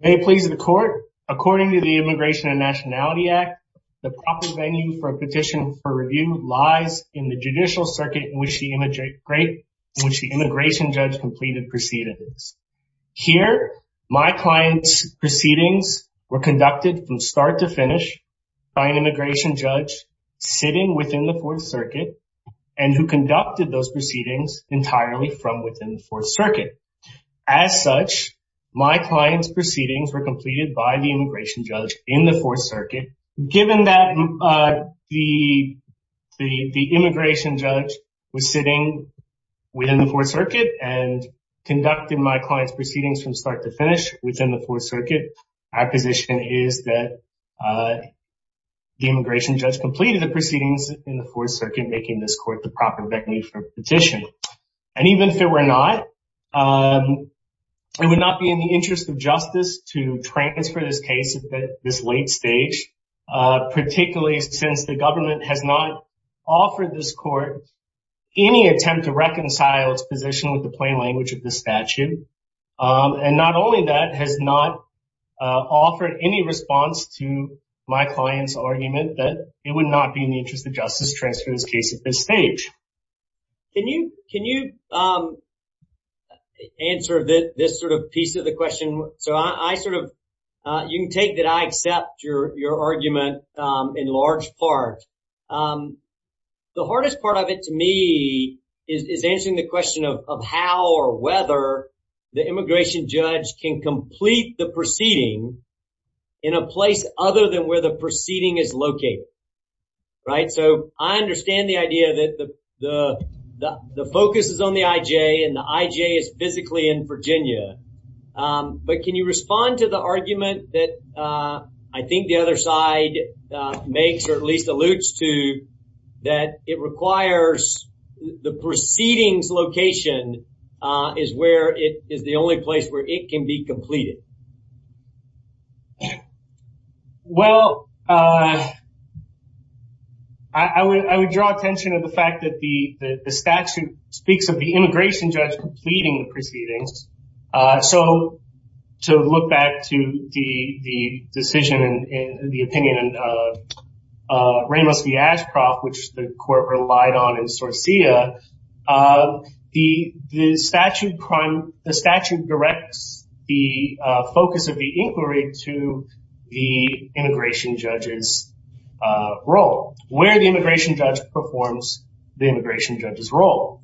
May it please the court, according to the Immigration and Nationality Act, the proper venue for a petition for review lies in the judicial circuit in which the immigration judge completed proceedings. Here, my client's proceedings were conducted from start to finish by an immigration judge sitting within the Fourth Circuit and who conducted those proceedings entirely from within the Fourth Circuit. As such, my client's proceedings were completed by the immigration judge in the Fourth Circuit. Given that the immigration judge was sitting within the Fourth Circuit and conducted my client's proceedings from start to finish within the Fourth Circuit, our position is that the immigration judge completed the proceedings in the Fourth Circuit, making this court the proper venue for a petition. And even if it were not, it would not be in the interest of justice to transfer this case at this late stage, particularly since the government has not offered this court any attempt to reconcile its position with the plain language of the statute. And not only that, it has not offered any response to my client's argument that it would not be in the interest of justice to transfer this case at this stage. Can you answer this sort of piece of the question? So I sort of, you can take that I accept your argument in large part. The hardest part of it to me is answering the question of how or whether the immigration judge can complete the proceeding in a place other than where the proceeding is located, right? So I understand the idea that the focus is on the IJ and the IJ is physically in Virginia. But can you respond to the argument that I think the other side makes or at least is the only place where it can be completed? Well, I would draw attention to the fact that the statute speaks of the immigration judge completing the proceedings. So to look back to the decision and the opinion of which the court relied on in Sorcia, the statute directs the focus of the inquiry to the immigration judge's role, where the immigration judge performs the immigration judge's role.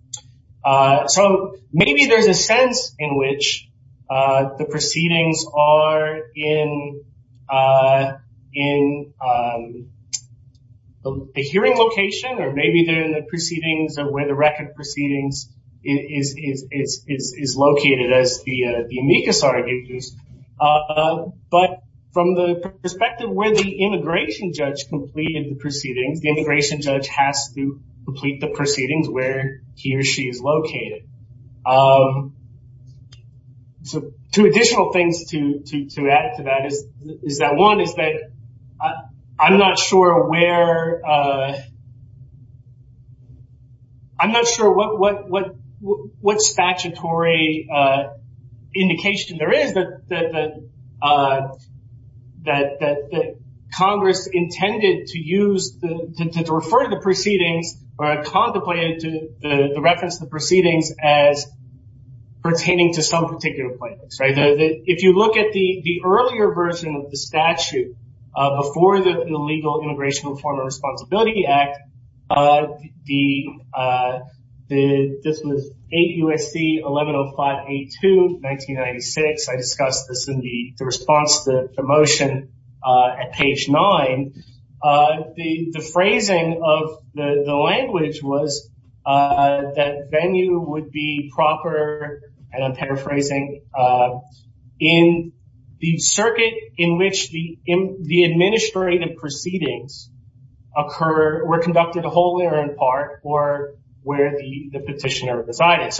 So maybe there's a sense in which the proceedings are in the hearing location, or maybe they're in the proceedings or where the record proceedings is located as the amicus argues. But from the perspective where the immigration judge completed the proceedings, the immigration judge has to complete the proceedings where he or she is located. So two additional things to add to that is that one is that I'm not sure what statutory a indication there is that Congress intended to use to refer to the proceedings or contemplated to the reference to the proceedings as pertaining to some particular place. If you look at the earlier version of the statute before the legal immigration reform and responsibility act, this was 8 U.S.C. 1105A2, 1996. I discussed this in the response to the motion at page nine. The phrasing of the language was that venue would be proper, and I'm paraphrasing, but in the circuit in which the administrative proceedings were conducted wholly or in part or where the petitioner decided.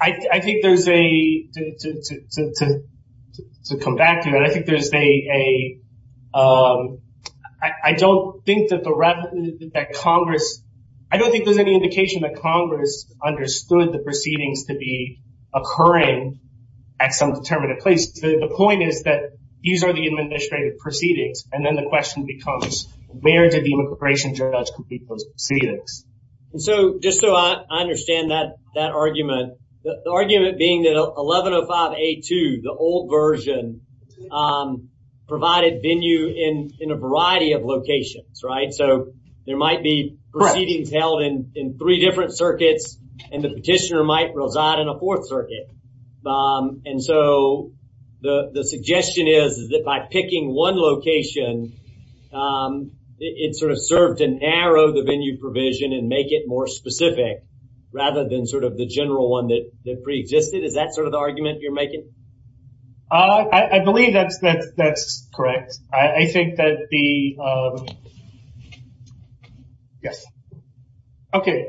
I think there's a... To come back to that, I don't think there's any indication that Congress understood the proceedings to be occurring at some determinative place. The point is that these are the administrative proceedings, and then the question becomes where did the immigration judge complete those proceedings? So just so I understand that argument, the argument being that 1105A2, the old version, provided venue in a variety of locations, right? There might be proceedings held in three different circuits, and the petitioner might reside in a fourth circuit. The suggestion is that by picking one location, it served to narrow the venue provision and make it more specific rather than the general one that preexisted. Is that the argument you're making? I believe that's correct. I think that the Yes. Okay.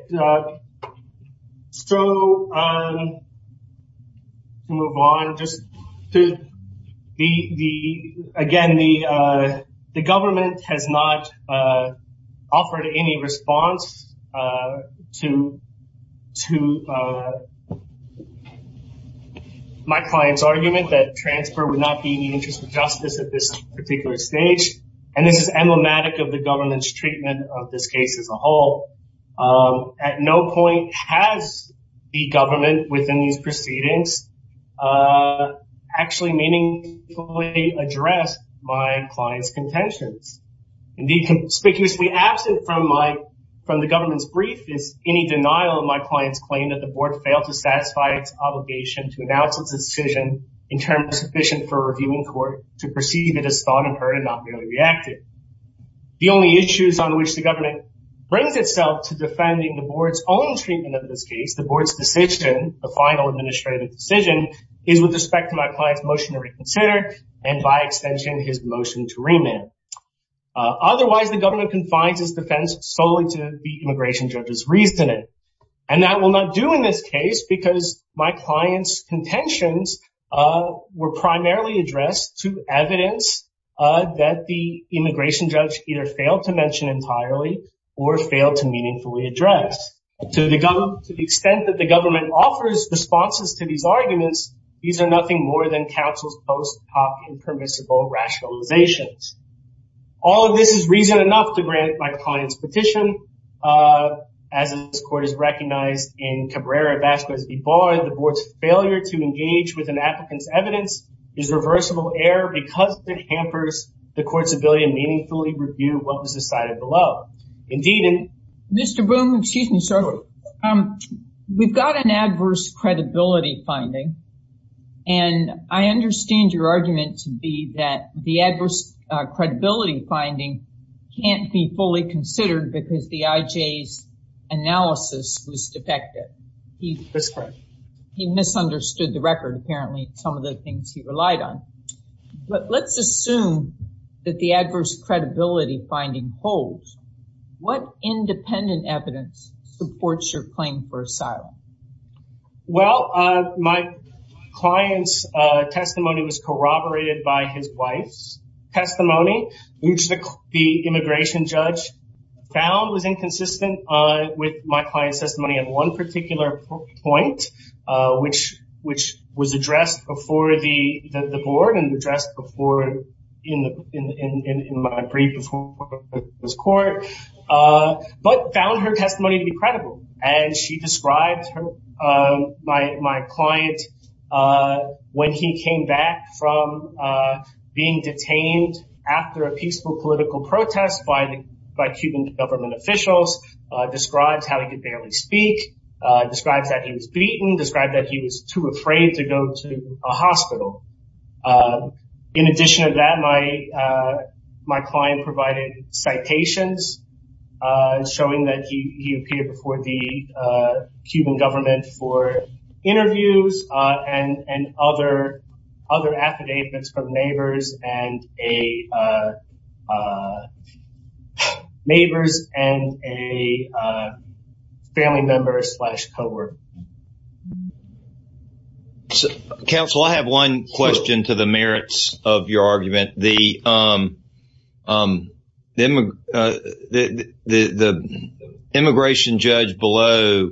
So we'll move on just to... Again, the government has not offered any response to my client's argument that transfer would not be in the interest of justice at this particular stage, and this is emblematic of the government's treatment of this case as a whole. At no point has the government within these proceedings actually meaningfully addressed my client's contentions. Indeed, conspicuously absent from the government's brief is any denial of my client's claim that the board failed to satisfy its obligation to announce its decision in terms sufficient for a reviewing court to perceive it as thought and heard and not merely reacted. The only issues on which the government brings itself to defending the board's own treatment of this case, the board's decision, the final administrative decision, is with respect to my client's motion to reconsider, and by extension, his motion to remand. Otherwise, the government confines its defense solely to the immigration judge's reasoning, and that will not do in this case. The board's intentions were primarily addressed to evidence that the immigration judge either failed to mention entirely or failed to meaningfully address. To the extent that the government offers responses to these arguments, these are nothing more than counsel's post-op impermissible rationalizations. All of this is reason enough to grant my client's petition. As this court has recognized in Cabrera-Vasquez v. Barr, the board's failure to engage with an applicant's evidence is reversible error because it hampers the court's ability to meaningfully review what was decided below. Indeed, in- Mr. Boone, excuse me, sir. We've got an adverse credibility finding, and I understand your argument to be that the adverse credibility finding can't be fully considered because the IJ's analysis was defective. He misunderstood the record, apparently, some of the things he relied on, but let's assume that the adverse credibility finding holds. What independent evidence supports your claim for asylum? Well, my client's testimony was corroborated by his wife's testimony, which the immigration judge found was inconsistent with my client's testimony at one particular point, which was addressed before the board and addressed in my brief before this court, but found her testimony to be credible. She described my client when he came back from being detained after a peaceful political protest by Cuban government officials, described how he could barely speak, described that he was beaten, described that he was too afraid to go to a hospital. In addition to that, my client provided citations showing that he appeared before the Cuban government for interviews and other affidavits from neighbors and a family member slash cohort. Counsel, I have one question to the merits of your argument. The immigration judge below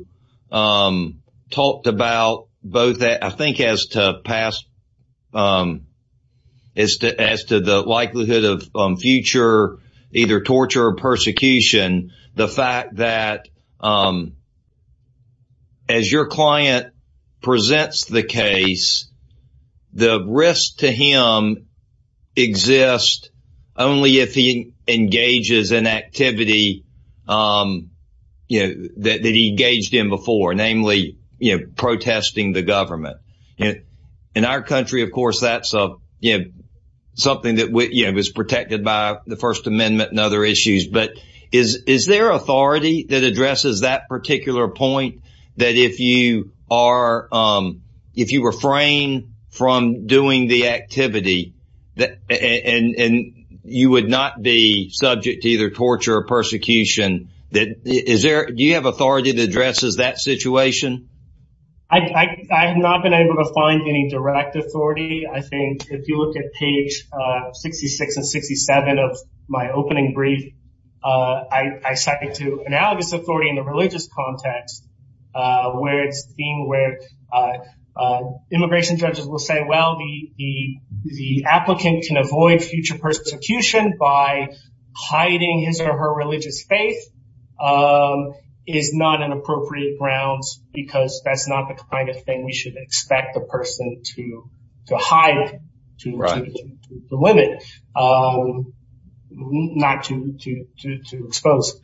talked about both, I think, as to the likelihood of future either torture or persecution, the fact that as your client presents the case, the risk to him exists only if he engages in activity that he engaged in before, namely protesting the government. In our country, of course, that's something that is protected by the First Amendment and other issues. Is there authority that addresses that particular point that if you refrain from doing the activity, you would not be subject to either torture or persecution? Do you have authority to address that situation? I have not been able to find any direct authority. I think if you look at page 66 and 67 of my opening brief, I cited to analogous authority in the religious context, where it's being where immigration judges will say, well, the applicant can avoid future persecution by hiding his or her religious faith is not an appropriate grounds because that's not the kind of thing we should expect the person to hide to the limit, not to expose.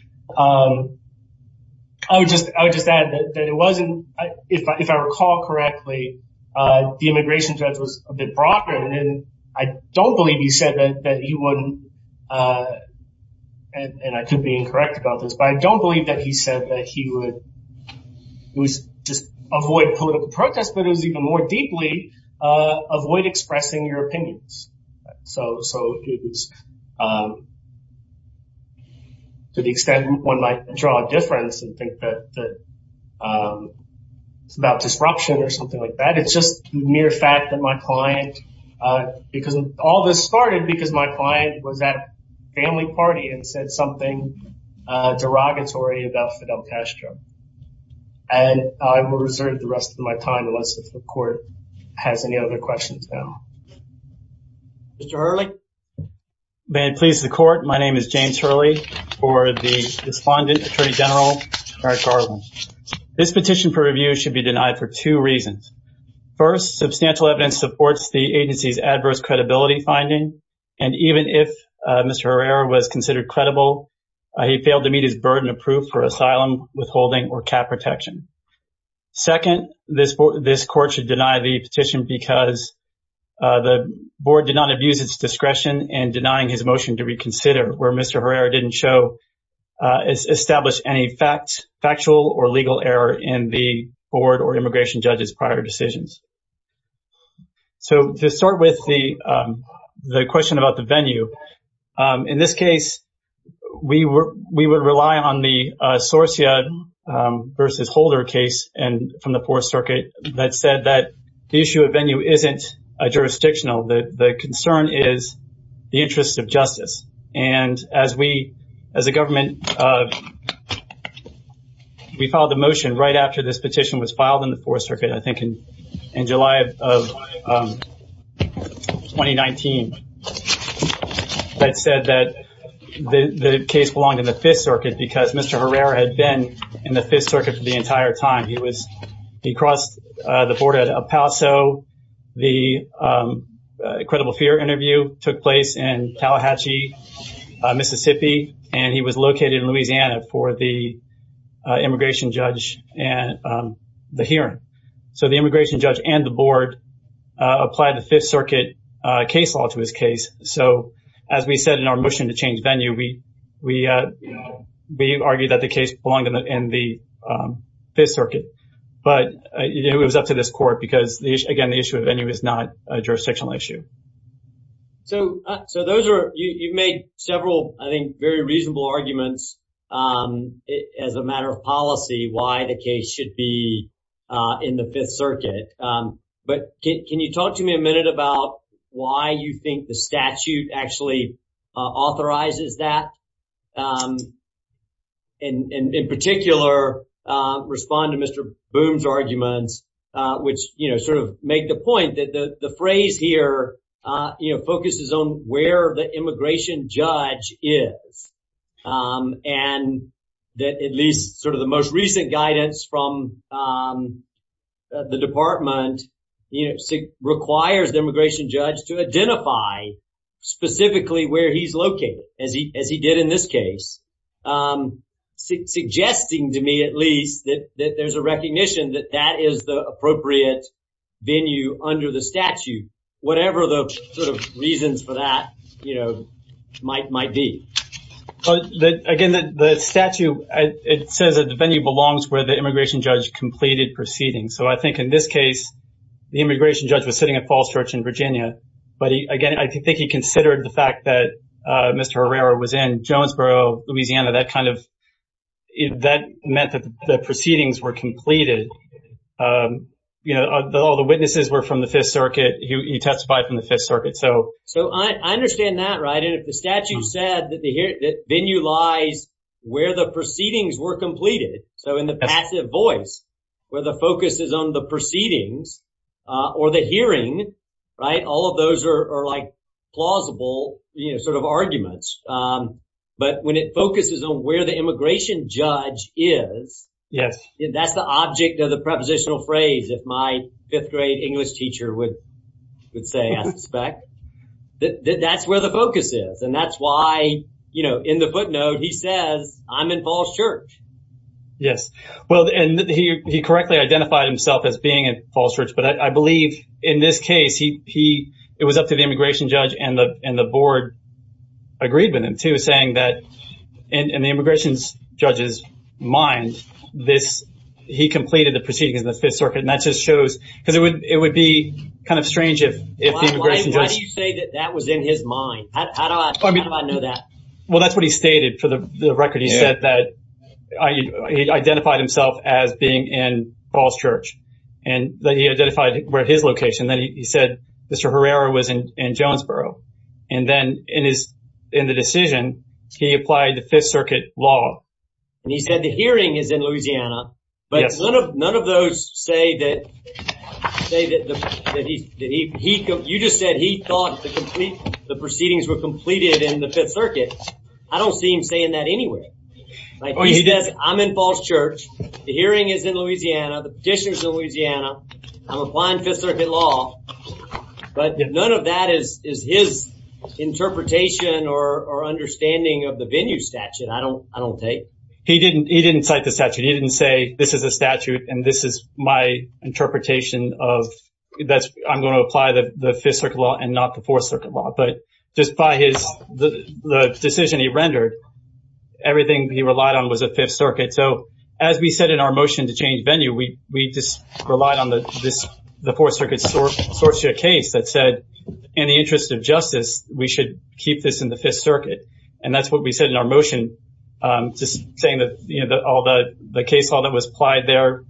I would just add that it wasn't, if I recall correctly, the immigration judge was a bit broader and I don't believe he said that he wouldn't, and I could be incorrect about this, but I don't believe that he said that he would just avoid political protest, but it was even more deeply avoid expressing your opinions. So to the extent one might draw a difference and think that it's about disruption or something like that, it's just mere fact that my client, because all this started because my client was at family party and said something derogatory about Fidel Castro. And I will reserve the rest of my time unless the court has any other questions now. Mr. Hurley. May it please the court. My name is James Hurley for the Respondent Attorney General Eric Garland. This petition for review should be denied for two reasons. First, substantial evidence supports the agency's adverse credibility finding, and even if Mr. Herrera was considered credible, he failed to meet his burden of proof for asylum, withholding, or cap protection. Second, this court should deny the petition because the board did not abuse its discretion in denying his motion to reconsider where Mr. Herrera didn't show, establish any factual or legal error in the board or immigration judge's prior decisions. So to start with the question about the venue, in this case, we would rely on the Sorcia versus Holder case from the Fourth Circuit that said that the issue of venue isn't jurisdictional. The concern is the interest of justice. And as we, as a government, we filed the motion right after this petition was filed in the Fourth Circuit, I think in July of 2019, that said that the case belonged in the Fifth Circuit because Mr. Herrera had been in the Fifth Circuit for the entire time. He was, he crossed the border at El Paso. The credible fear interview took place in Tallahatchie, Mississippi, and he was located in Louisiana for the immigration judge and the hearing. So the immigration judge and the board applied the Fifth Circuit case law to his case. So as we said in our motion to change venue, we we argued that the case belonged in the Fifth Circuit. But it was up to this court because, again, the issue of venue is not a jurisdictional issue. So those are, you've made several, I think, very reasonable arguments as a matter of policy, why the case should be in the Fifth Circuit. But can you talk to me a minute about why you think the statute actually authorizes that? And in particular, respond to Mr. Boone's arguments, which, you know, sort of make the point that the phrase here, you know, focuses on where the immigration judge is. And that at least sort of the most recent guidance from the department requires the immigration judge to identify specifically where he's located, as he did in this case, suggesting to me at least that there's a recognition that that is the appropriate venue under the statute, whatever the sort of reasons for that, you know, might be. But again, the statute, it says that the venue belongs where the immigration judge completed proceedings. So I think in this case, the immigration judge was sitting at Falls Church in Virginia. But again, I think he considered the fact that Mr. Herrera was in Jonesboro, Louisiana, that kind of, that meant that the proceedings were completed. You know, all the witnesses were from the Fifth Circuit. He testified from the Fifth Circuit. So I understand that, right. And if the statute said that the venue lies where the proceedings were completed, so in the passive voice, where the focus is on the proceedings or the hearing, right, all of those are like plausible, you know, sort of arguments. But when it focuses on where the immigration judge is, that's the object of the prepositional phrase, if my fifth grade English teacher would say, I suspect. That's where the focus is. And that's why, you know, in the footnote, he says, I'm in Falls Church. Yes. Well, and he correctly identified himself as being at Falls Church. But I believe in this case, he, it was up to the immigration judge and the board agreed with him, too, saying that in the immigration judge's mind, this, he completed the proceedings in the Fifth Circuit. And that just shows, because it would, it would be kind of strange if the immigration judge... Why do you say that that was in his mind? How do I know that? Well, that's what he stated for the record. He said that he identified himself as being in Falls Church and that he identified where his location, then he said Mr. Herrera was in Jonesboro. And then in his, in the decision, he applied the Fifth Circuit law. And he said the hearing is in Louisiana, but none of, none of those say that, say that he, he, you just said he thought the complete, the proceedings were completed in the Fifth Circuit. I don't see him saying that anywhere. Like he says, I'm in Falls Church. The hearing is in Louisiana. The petition is in Louisiana. I'm applying Fifth Circuit law. But none of that is, is his interpretation or, or understanding of the venue statute, I don't, I don't take. He didn't, he didn't cite the statute. He didn't say this is a statute and this is my interpretation of that's, I'm going to apply the Fifth Circuit law and not the Fourth Circuit law. But just by his, the decision he rendered, everything he relied on was the Fifth Circuit. So as we said in our motion to change venue, we, we just relied on the, this, the Fourth Circuit source, source to a case that said in the interest of justice, we should keep this in the Fifth Circuit. And that's what we said in our motion, just saying that, you know, all the, the case law that was applied there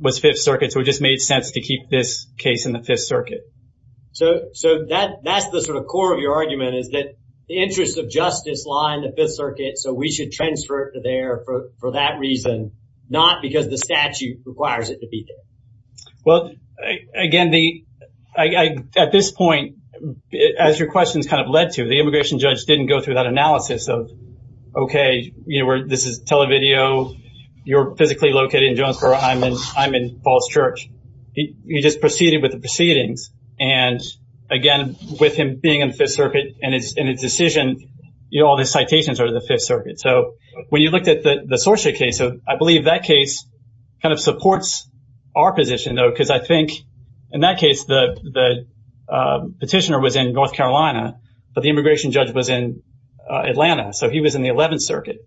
was Fifth Circuit. So it just made sense to keep this case in the Fifth Circuit. So, so that, that's the sort of core of your argument is that the interest of justice lie in the Fifth Circuit. So we should transfer it to there for, for that reason, not because the statute requires it to be there. Well, again, the, I, I, at this point, as your questions kind of led to, the immigration judge didn't go through that analysis of, okay, you know, we're, this is televideo, you're physically located in Jonesboro, I'm in, I'm in Falls Church. He, he just proceeded with the proceedings. And again, with him being in the Fifth Circuit and his, and his decision, you know, all the citations are the Fifth Circuit. So when you looked at the, the Sorcia case, I believe that case kind of supports our position though, because I think in that case, the, the petitioner was in North Carolina, but the immigration judge was in Atlanta. So he was in the 11th Circuit.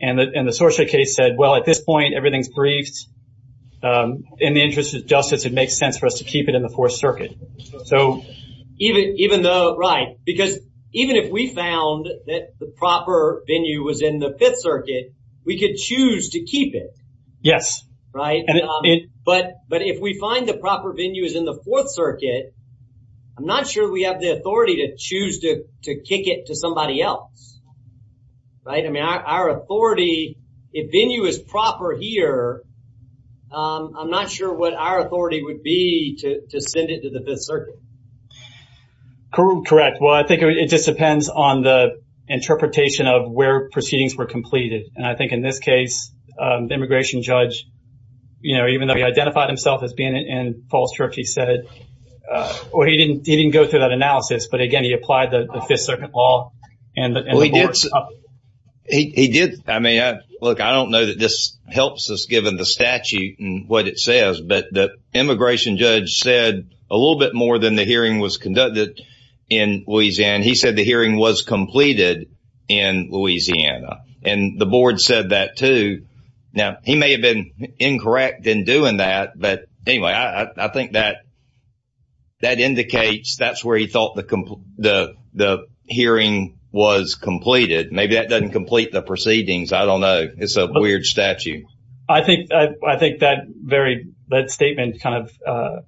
And the, and the Sorcia case said, well, at this point, everything's briefed. In the interest of justice, it makes sense for us to keep it in the Fourth Circuit. So even, even though, right, because even if we found that the proper venue was in the Fifth Circuit, we could choose to keep it. Yes. Right. But, but if we find the proper venue is in the Fourth Circuit, I'm not sure we have the authority to choose to, to kick it to somebody else. Right. I mean, our authority, if venue is proper here, I'm not sure what our authority would be to, to send it to the Fifth Circuit. Correct. Well, I think it just depends on the interpretation of where proceedings were completed. And I think in this case, the immigration judge, you know, even though he identified himself as being in Falls Church, he said, well, he didn't, he didn't go through that analysis, but again, he applied the Fifth Circuit law. And he did. I mean, look, I don't know that this helps us given the statute and what it says, but the immigration judge said a little bit more than the hearing was conducted in Louisiana. He said the hearing was completed in Louisiana and the board said that too. Now, he may have been incorrect in doing that, but anyway, I think that, that indicates that's where he thought the, the, the hearing was completed. Maybe that doesn't complete the proceedings. I don't know. It's a weird statute. I think, I think that very, that statement kind of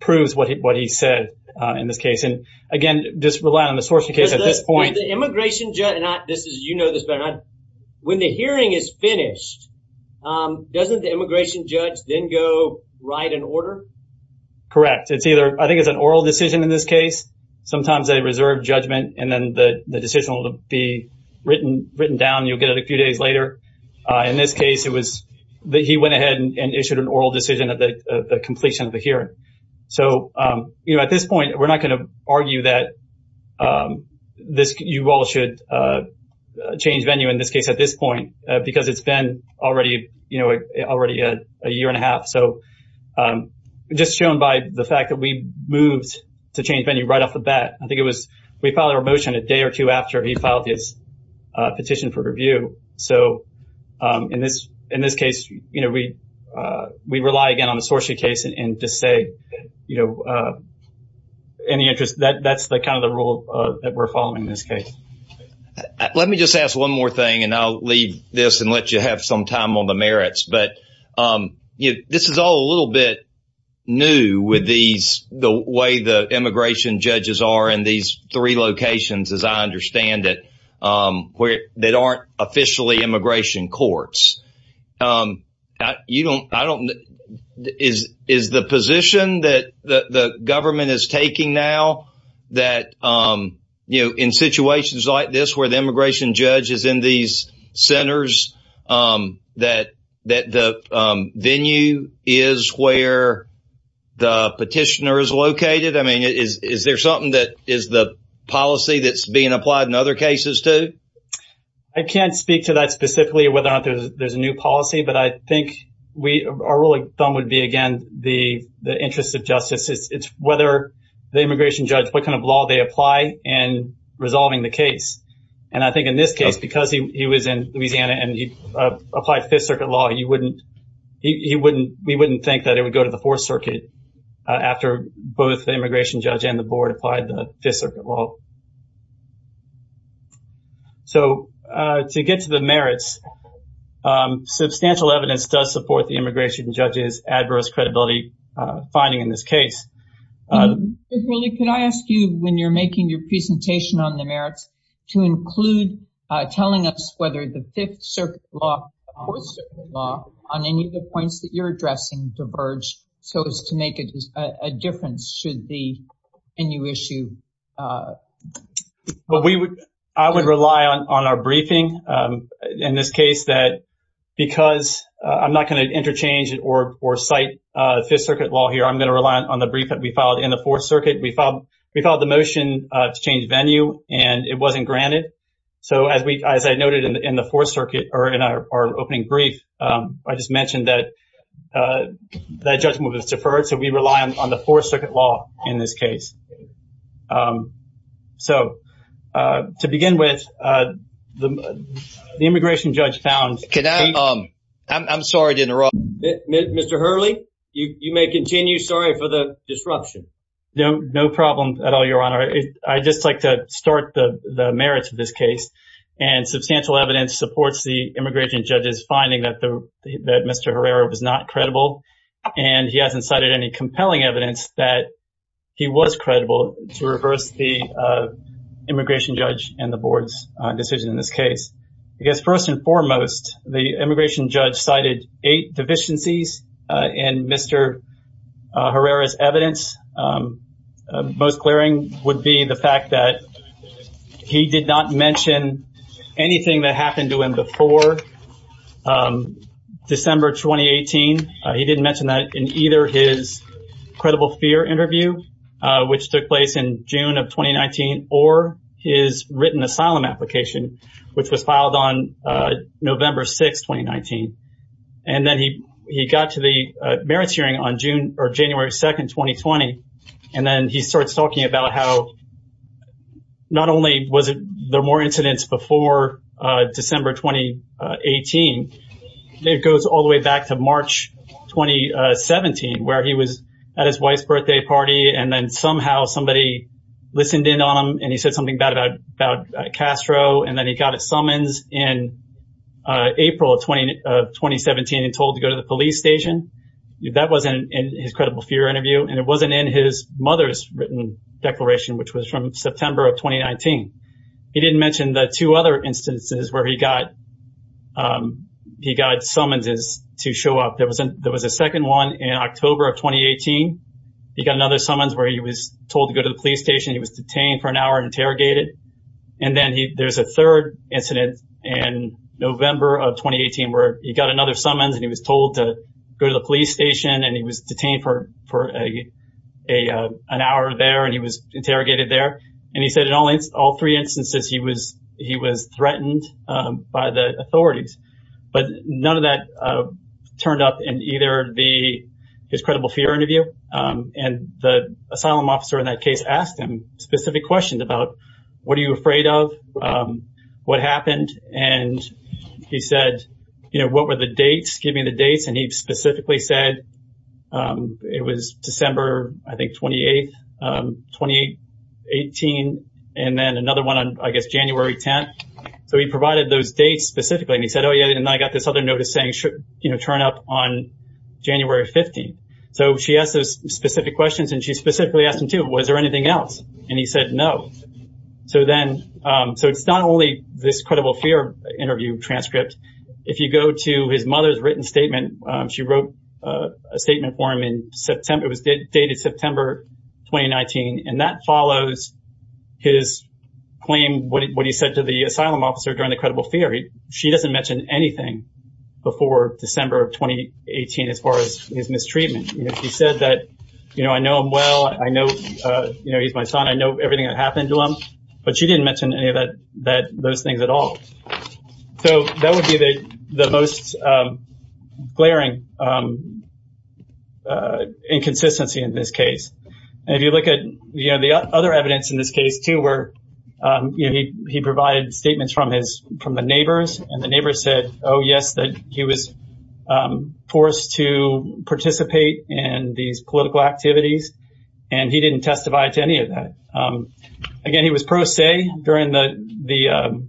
proves what he, what he said in this case. And again, just rely on the source of case at this point. The immigration judge, and I, this is, you know this better. When the hearing is finished, doesn't the immigration judge then go write an order? Correct. It's either, I think it's an oral decision in this case. Sometimes they reserve judgment and then the decision will be written, written down. You'll get it a few days later. In this case, it was, he went ahead and issued an oral decision. So, you know, at this point, we're not going to argue that this, you all should change venue in this case at this point, because it's been already, you know, already a year and a half. So, just shown by the fact that we moved to change venue right off the bat. I think it was, we filed our motion a day or two after he filed his petition for review. So, in this, in this case, you know, we, we rely again on the source of case and to say, you know, any interest, that's the kind of the rule that we're following in this case. Let me just ask one more thing, and I'll leave this and let you have some time on the merits. But, you know, this is all a little bit new with these, the way the immigration judges are in these three locations, as I understand it, where they aren't officially immigration courts. You don't, I don't, is, is the position that the government is taking now that, you know, in situations like this, where the immigration judge is in these centers, that, that the venue is where the petitioner is located? I mean, is there something that is the policy that's being applied in other cases too? I can't speak to that specifically, whether or not there's a new policy, but I think we, our rule of thumb would be, again, the, the interest of justice. It's, it's whether the immigration judge, what kind of law they apply in resolving the case. And I think in this case, because he was in Louisiana and he applied Fifth Circuit law, you wouldn't, he wouldn't, we wouldn't think that it would go to the Fourth Circuit after both the immigration judge and the board applied the Fifth Circuit law. So, to get to the merits, substantial evidence does support the immigration judge's adverse credibility finding in this case. Ms. Ridley, can I ask you, when you're making your presentation on the merits, to include telling us whether the Fifth Circuit law or the Fourth Circuit law, on any of the points that you're addressing, diverge so as to make a difference should the venue issue? Well, we would, I would rely on our briefing in this case that, because I'm not going to interchange or cite Fifth Circuit law here, I'm going to rely on the brief that we filed in the Fourth Circuit. We filed the motion to change venue and it wasn't granted. So, as we, as I said, in our opening brief, I just mentioned that that judgment was deferred. So, we rely on the Fourth Circuit law in this case. So, to begin with, the immigration judge found... Can I, I'm sorry to interrupt. Mr. Hurley, you may continue. Sorry for the disruption. No problem at all, Your Honor. I'd just like to start the merits of this case and substantial evidence supports the immigration judge's finding that Mr. Herrera was not credible and he hasn't cited any compelling evidence that he was credible to reverse the immigration judge and the board's decision in this case. Because, first and foremost, the immigration judge cited eight deficiencies in Mr. Herrera's evidence. Most glaring would be the fact that he did not mention anything that happened to him before December 2018. He didn't mention that in either his credible fear interview, which took place in June of 2019, or his written asylum application, which was filed on November 6, 2019. And then he got to the merits hearing on June or January 2, 2020. And then he starts talking about how not only was there more incidents before December 2018, it goes all the way back to March 2017, where he was at his wife's birthday party and then somehow somebody listened in on him and he said something bad about Castro. And then he got a summons in April of 2017 and told to go to the police station. That wasn't in his credible fear interview, and it wasn't in his mother's written declaration, which was from September of 2019. He didn't mention the two other instances where he got summonses to show up. There was a second one in October of 2018. He got another summons where he was told to go to the police station. He was detained for an hour there, and he was interrogated there. And he said in all three instances, he was threatened by the authorities. But none of that turned up in either his credible fear interview. And the asylum officer in that case asked him specific questions about, what are you afraid of? You know, what were the dates? Give me the dates. And he specifically said, it was December, I think, 28th, 2018. And then another one on, I guess, January 10th. So he provided those dates specifically. And he said, oh, yeah, and I got this other notice saying, you know, turn up on January 15th. So she asked those specific questions, and she specifically asked him, too, was there anything else? And he said, no. So then, so it's not only this credible fear interview transcript. If you go to his mother's written statement, she wrote a statement for him in September. It was dated September 2019. And that follows his claim, what he said to the asylum officer during the credible fear. She doesn't mention anything before December of 2018 as far as his mistreatment. He said that, you know, he's my son. I know everything that happened to him. But she didn't mention any of those things at all. So that would be the most glaring inconsistency in this case. If you look at, you know, the other evidence in this case, too, where he provided statements from his, from the neighbors, and the neighbors said, oh, yes, that he was forced to participate in these cases. Again, he was pro se during the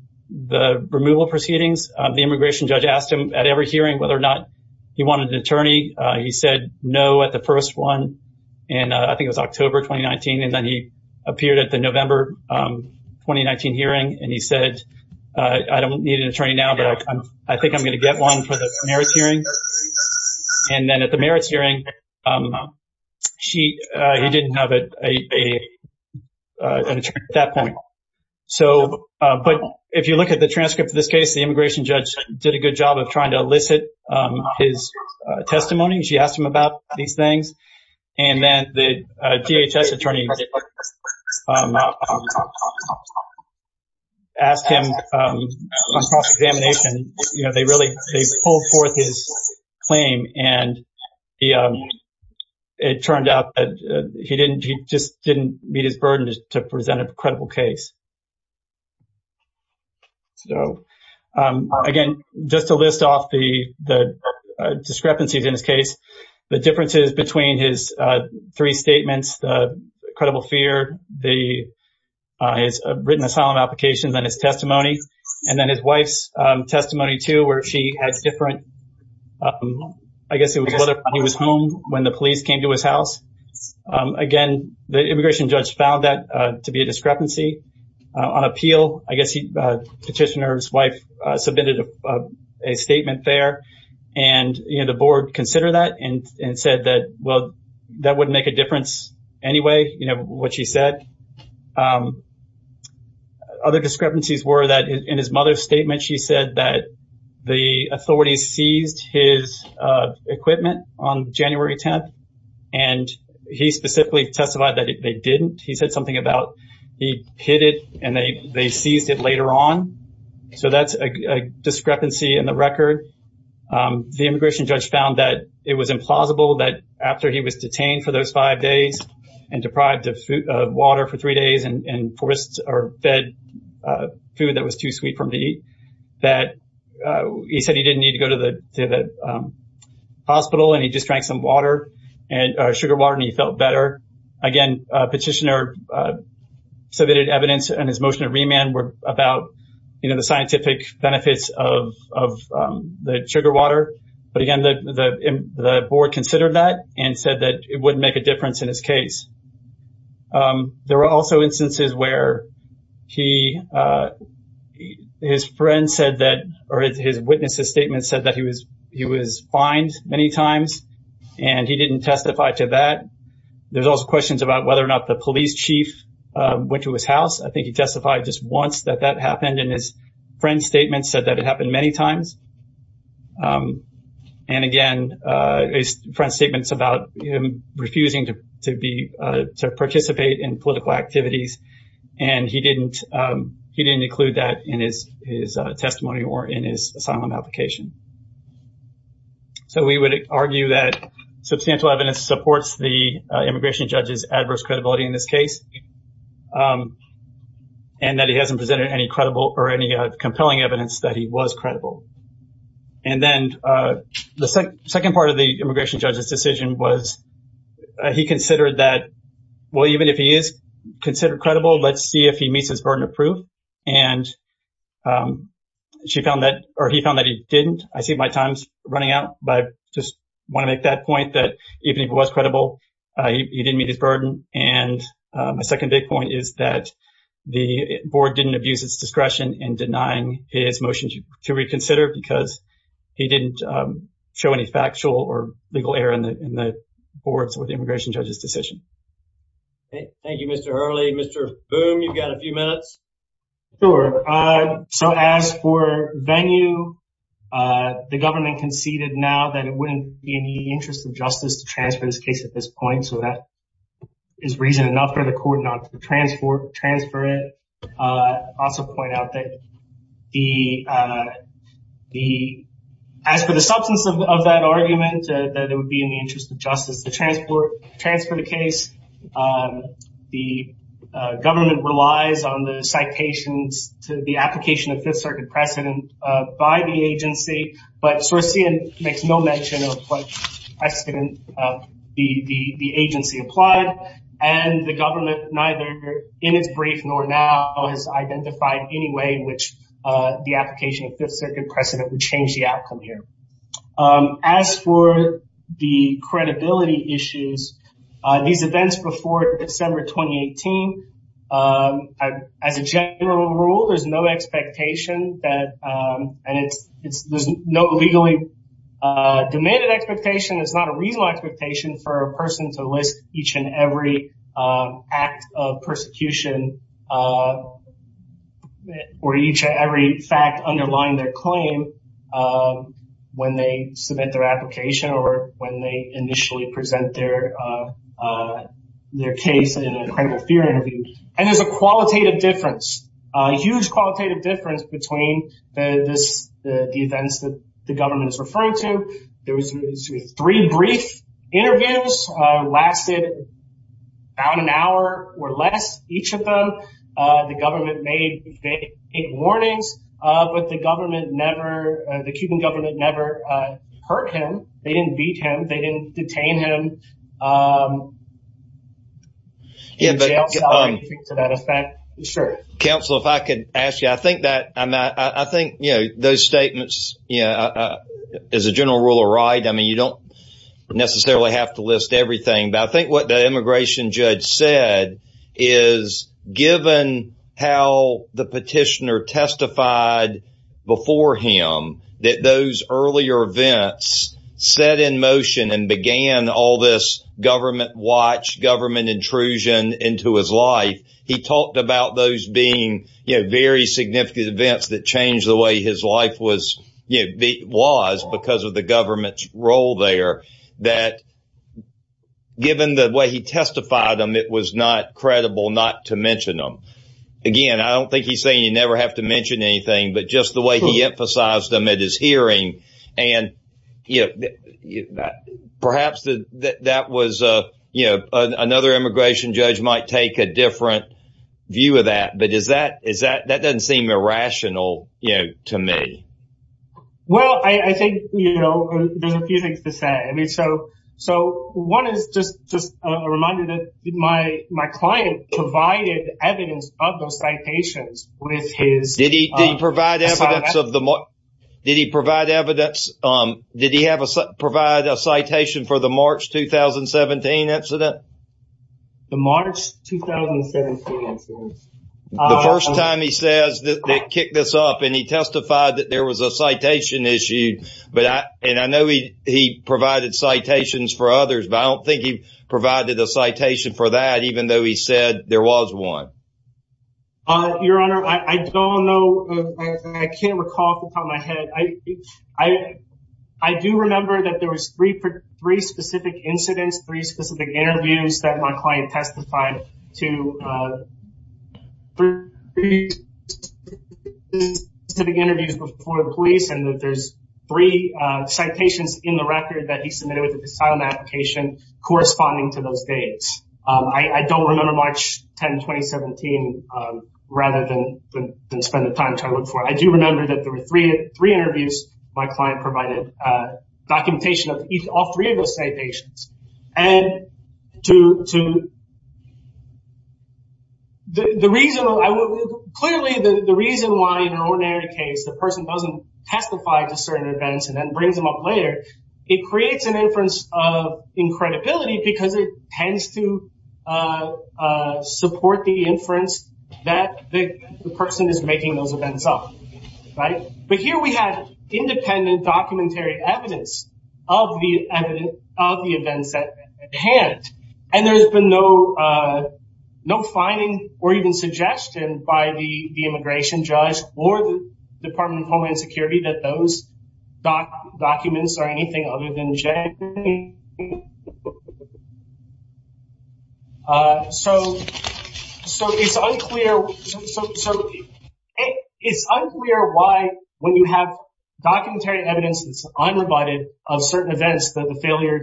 removal proceedings. The immigration judge asked him at every hearing whether or not he wanted an attorney. He said no at the first one. And I think it was October 2019. And then he appeared at the November 2019 hearing, and he said, I don't need an attorney now, but I think I'm going to get one for the merits hearing. And then at the merits hearing, he didn't have an attorney at that point. So, but if you look at the transcript of this case, the immigration judge did a good job of trying to elicit his testimony. She asked him about these things. And then the DHS attorney asked him on cross-examination, you know, they really, they pulled forth his claim. And it turned out that he didn't, he just didn't meet his burden to present a credible case. So, again, just to list off the discrepancies in his case, the differences between his three statements, the credible fear, the written asylum applications, and his testimony, and then his wife's testimony too, where she had different, I guess it was whether he was home when the police came to his house. Again, the immigration judge found that to be a discrepancy. On appeal, I guess the petitioner's wife submitted a statement there. And, you know, the board considered that and said that, well, that wouldn't make a difference anyway, you know, what she said. Other discrepancies were that in his mother's statement, she said that the authorities seized his equipment on January 10th. And he specifically testified that they didn't. He said something about he hid it and they seized it later on. So that's a discrepancy in the record. The immigration judge found that it was implausible that after he was detained for those five days and deprived of water for three days and fed food that was too sweet for him to eat, that he said he didn't need to go to the hospital and he just drank some sugar water and he felt better. Again, petitioner submitted evidence and his motion of remand were about, you know, scientific benefits of the sugar water. But again, the board considered that and said that it wouldn't make a difference in his case. There were also instances where his friend said that, or his witness's statement said that he was fined many times and he didn't testify to that. There's also questions about whether or not the police chief went to his house. I think he once said that that happened and his friend's statement said that it happened many times. And again, his friend's statement's about him refusing to participate in political activities and he didn't include that in his testimony or in his asylum application. So we would argue that substantial evidence supports the immigration judge's adverse credibility in this case and that he hasn't presented any credible or any compelling evidence that he was credible. And then the second part of the immigration judge's decision was he considered that, well, even if he is considered credible, let's see if he meets his burden of proof. And he found that he didn't. I see my time's running out, but I just want to make that point that even if he was credible, he didn't meet his burden. And my second big point is that the board didn't abuse its discretion in denying his motion to reconsider because he didn't show any factual or legal error in the board's or the immigration judge's decision. Thank you, Mr. Hurley. Mr. Boone, you've got a few minutes. Sure. So as for Venue, the government conceded now that it wouldn't be in the interest of justice to transfer this case at this point. So that is reason enough for the court not to transfer it. I also point out that as for the substance of that argument, that it would be in the on the citations to the application of Fifth Circuit precedent by the agency, but Sorosian makes no mention of what precedent the agency applied. And the government neither in its brief nor now has identified any way in which the application of Fifth Circuit precedent would change the outcome here. As for the credibility issues, these events before December 2018, as a general rule, there's no expectation that and it's there's no legally demanded expectation. It's not a reasonable expectation for a person to list each and every act of persecution or each or every fact underlying their claim when they submit their application or when they have a credible fear interview. And there's a qualitative difference, a huge qualitative difference between the events that the government is referring to. There was three brief interviews lasted about an hour or less each of them. The government made big warnings, but the government never, the Cuban government never hurt him. They didn't beat him. They didn't detain him. Yeah, but to that effect, sure, counsel, if I could ask you, I think that I think, you know, those statements, you know, as a general rule of right, I mean, you don't necessarily have to list everything. But I think what the immigration judge said is given how the petitioner testified before him that those earlier events set in motion and began all this government watch, government intrusion into his life, he talked about those being, you know, very significant events that changed the way his life was, you know, was because of the government's role there, that given the way he testified them, it was not credible not to mention them. Again, I don't think he's saying you never have to mention anything, but just the way he emphasized them at his hearing. And, you know, that perhaps that was, you know, another immigration judge might take a different view of that. But is that is that that doesn't seem irrational to me? Well, I think, you know, there's a few things to say. I mean, so one is just a reminder that my my client provided evidence of those citations with his... Did he provide evidence of them? Did he provide evidence? Did he have a provide a citation for the March 2017 incident? The March 2017 incident. The first time he says that they kick this up, and he testified that there was a citation issue, but I and I know he he provided citations for others, but I don't think he provided a citation for that, even though he said there was one. Your Honor, I don't know. I can't recall off the top of my head. I think I I do remember that there was three for three specific incidents, three specific interviews that my client testified to three specific interviews before the police, and that there's three citations in the record that he submitted with the asylum application corresponding to those dates. I don't remember March 10, 2017, rather than spend the time trying to look for it. I do remember that there were three interviews my client provided, documentation of all three of those citations. And to the reason I would... Clearly, the reason why in an ordinary case, the person doesn't testify to certain events and then creates an inference of incredibility because it tends to support the inference that the person is making those events up. But here we have independent documentary evidence of the events at hand. And there's been no finding or even suggestion by the immigration judge or the judge. So it's unclear why when you have documentary evidence that's unrebutted of certain events that the failure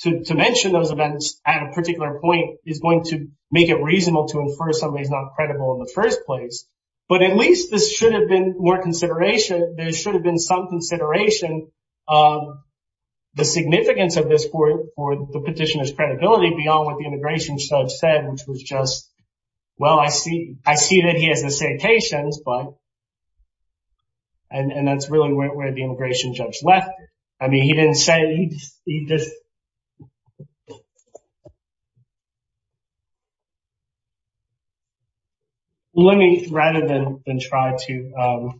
to mention those events at a particular point is going to make it reasonable to infer somebody is not credible in the first place. But at least this should have been more consideration. There should have been some consideration of the significance of this for the petitioner's credibility beyond what the immigration judge said, which was just, well, I see that he has the citations, but... And that's really where the immigration judge left. I mean, he didn't say... Let me rather than try to...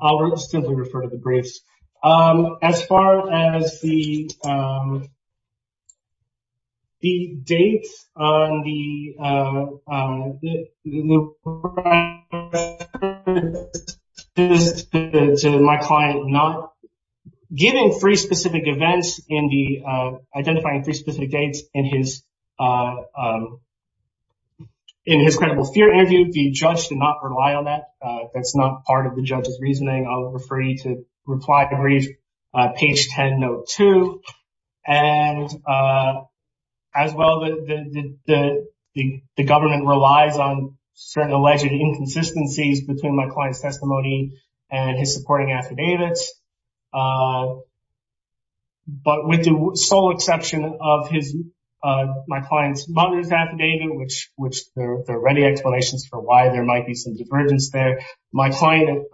I'll simply refer to the briefs. As far as the dates on the... To my client, not giving three specific events in the identifying three specific dates in his credible fear interview, the judge did not rely on that. That's not part of the judge's reasoning. I'll refer you to reply to page 10, note two. And as well, the government relies on certain alleged inconsistencies between my client's testimony and his supporting affidavits. But with the sole exception of my client's mother's affidavit, which there are already explanations for why there might be some divergence there, my client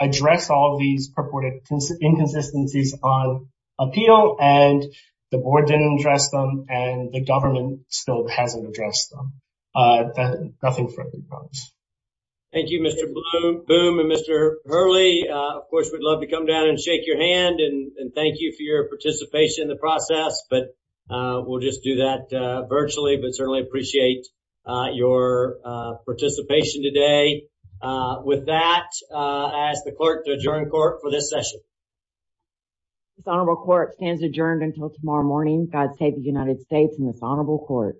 addressed all of these purported inconsistencies on appeal, and the board didn't address them, and the government still hasn't addressed them. Nothing further to be promised. Thank you, Mr. Bloom and Mr. Hurley. Of course, we'd love to come down and shake your hand, and thank you for your participation in the process. But we'll just do that virtually, but certainly appreciate your participation today. With that, I ask the clerk to adjourn court for this session. Dishonorable court stands adjourned until tomorrow morning. God save the United States and this honorable court.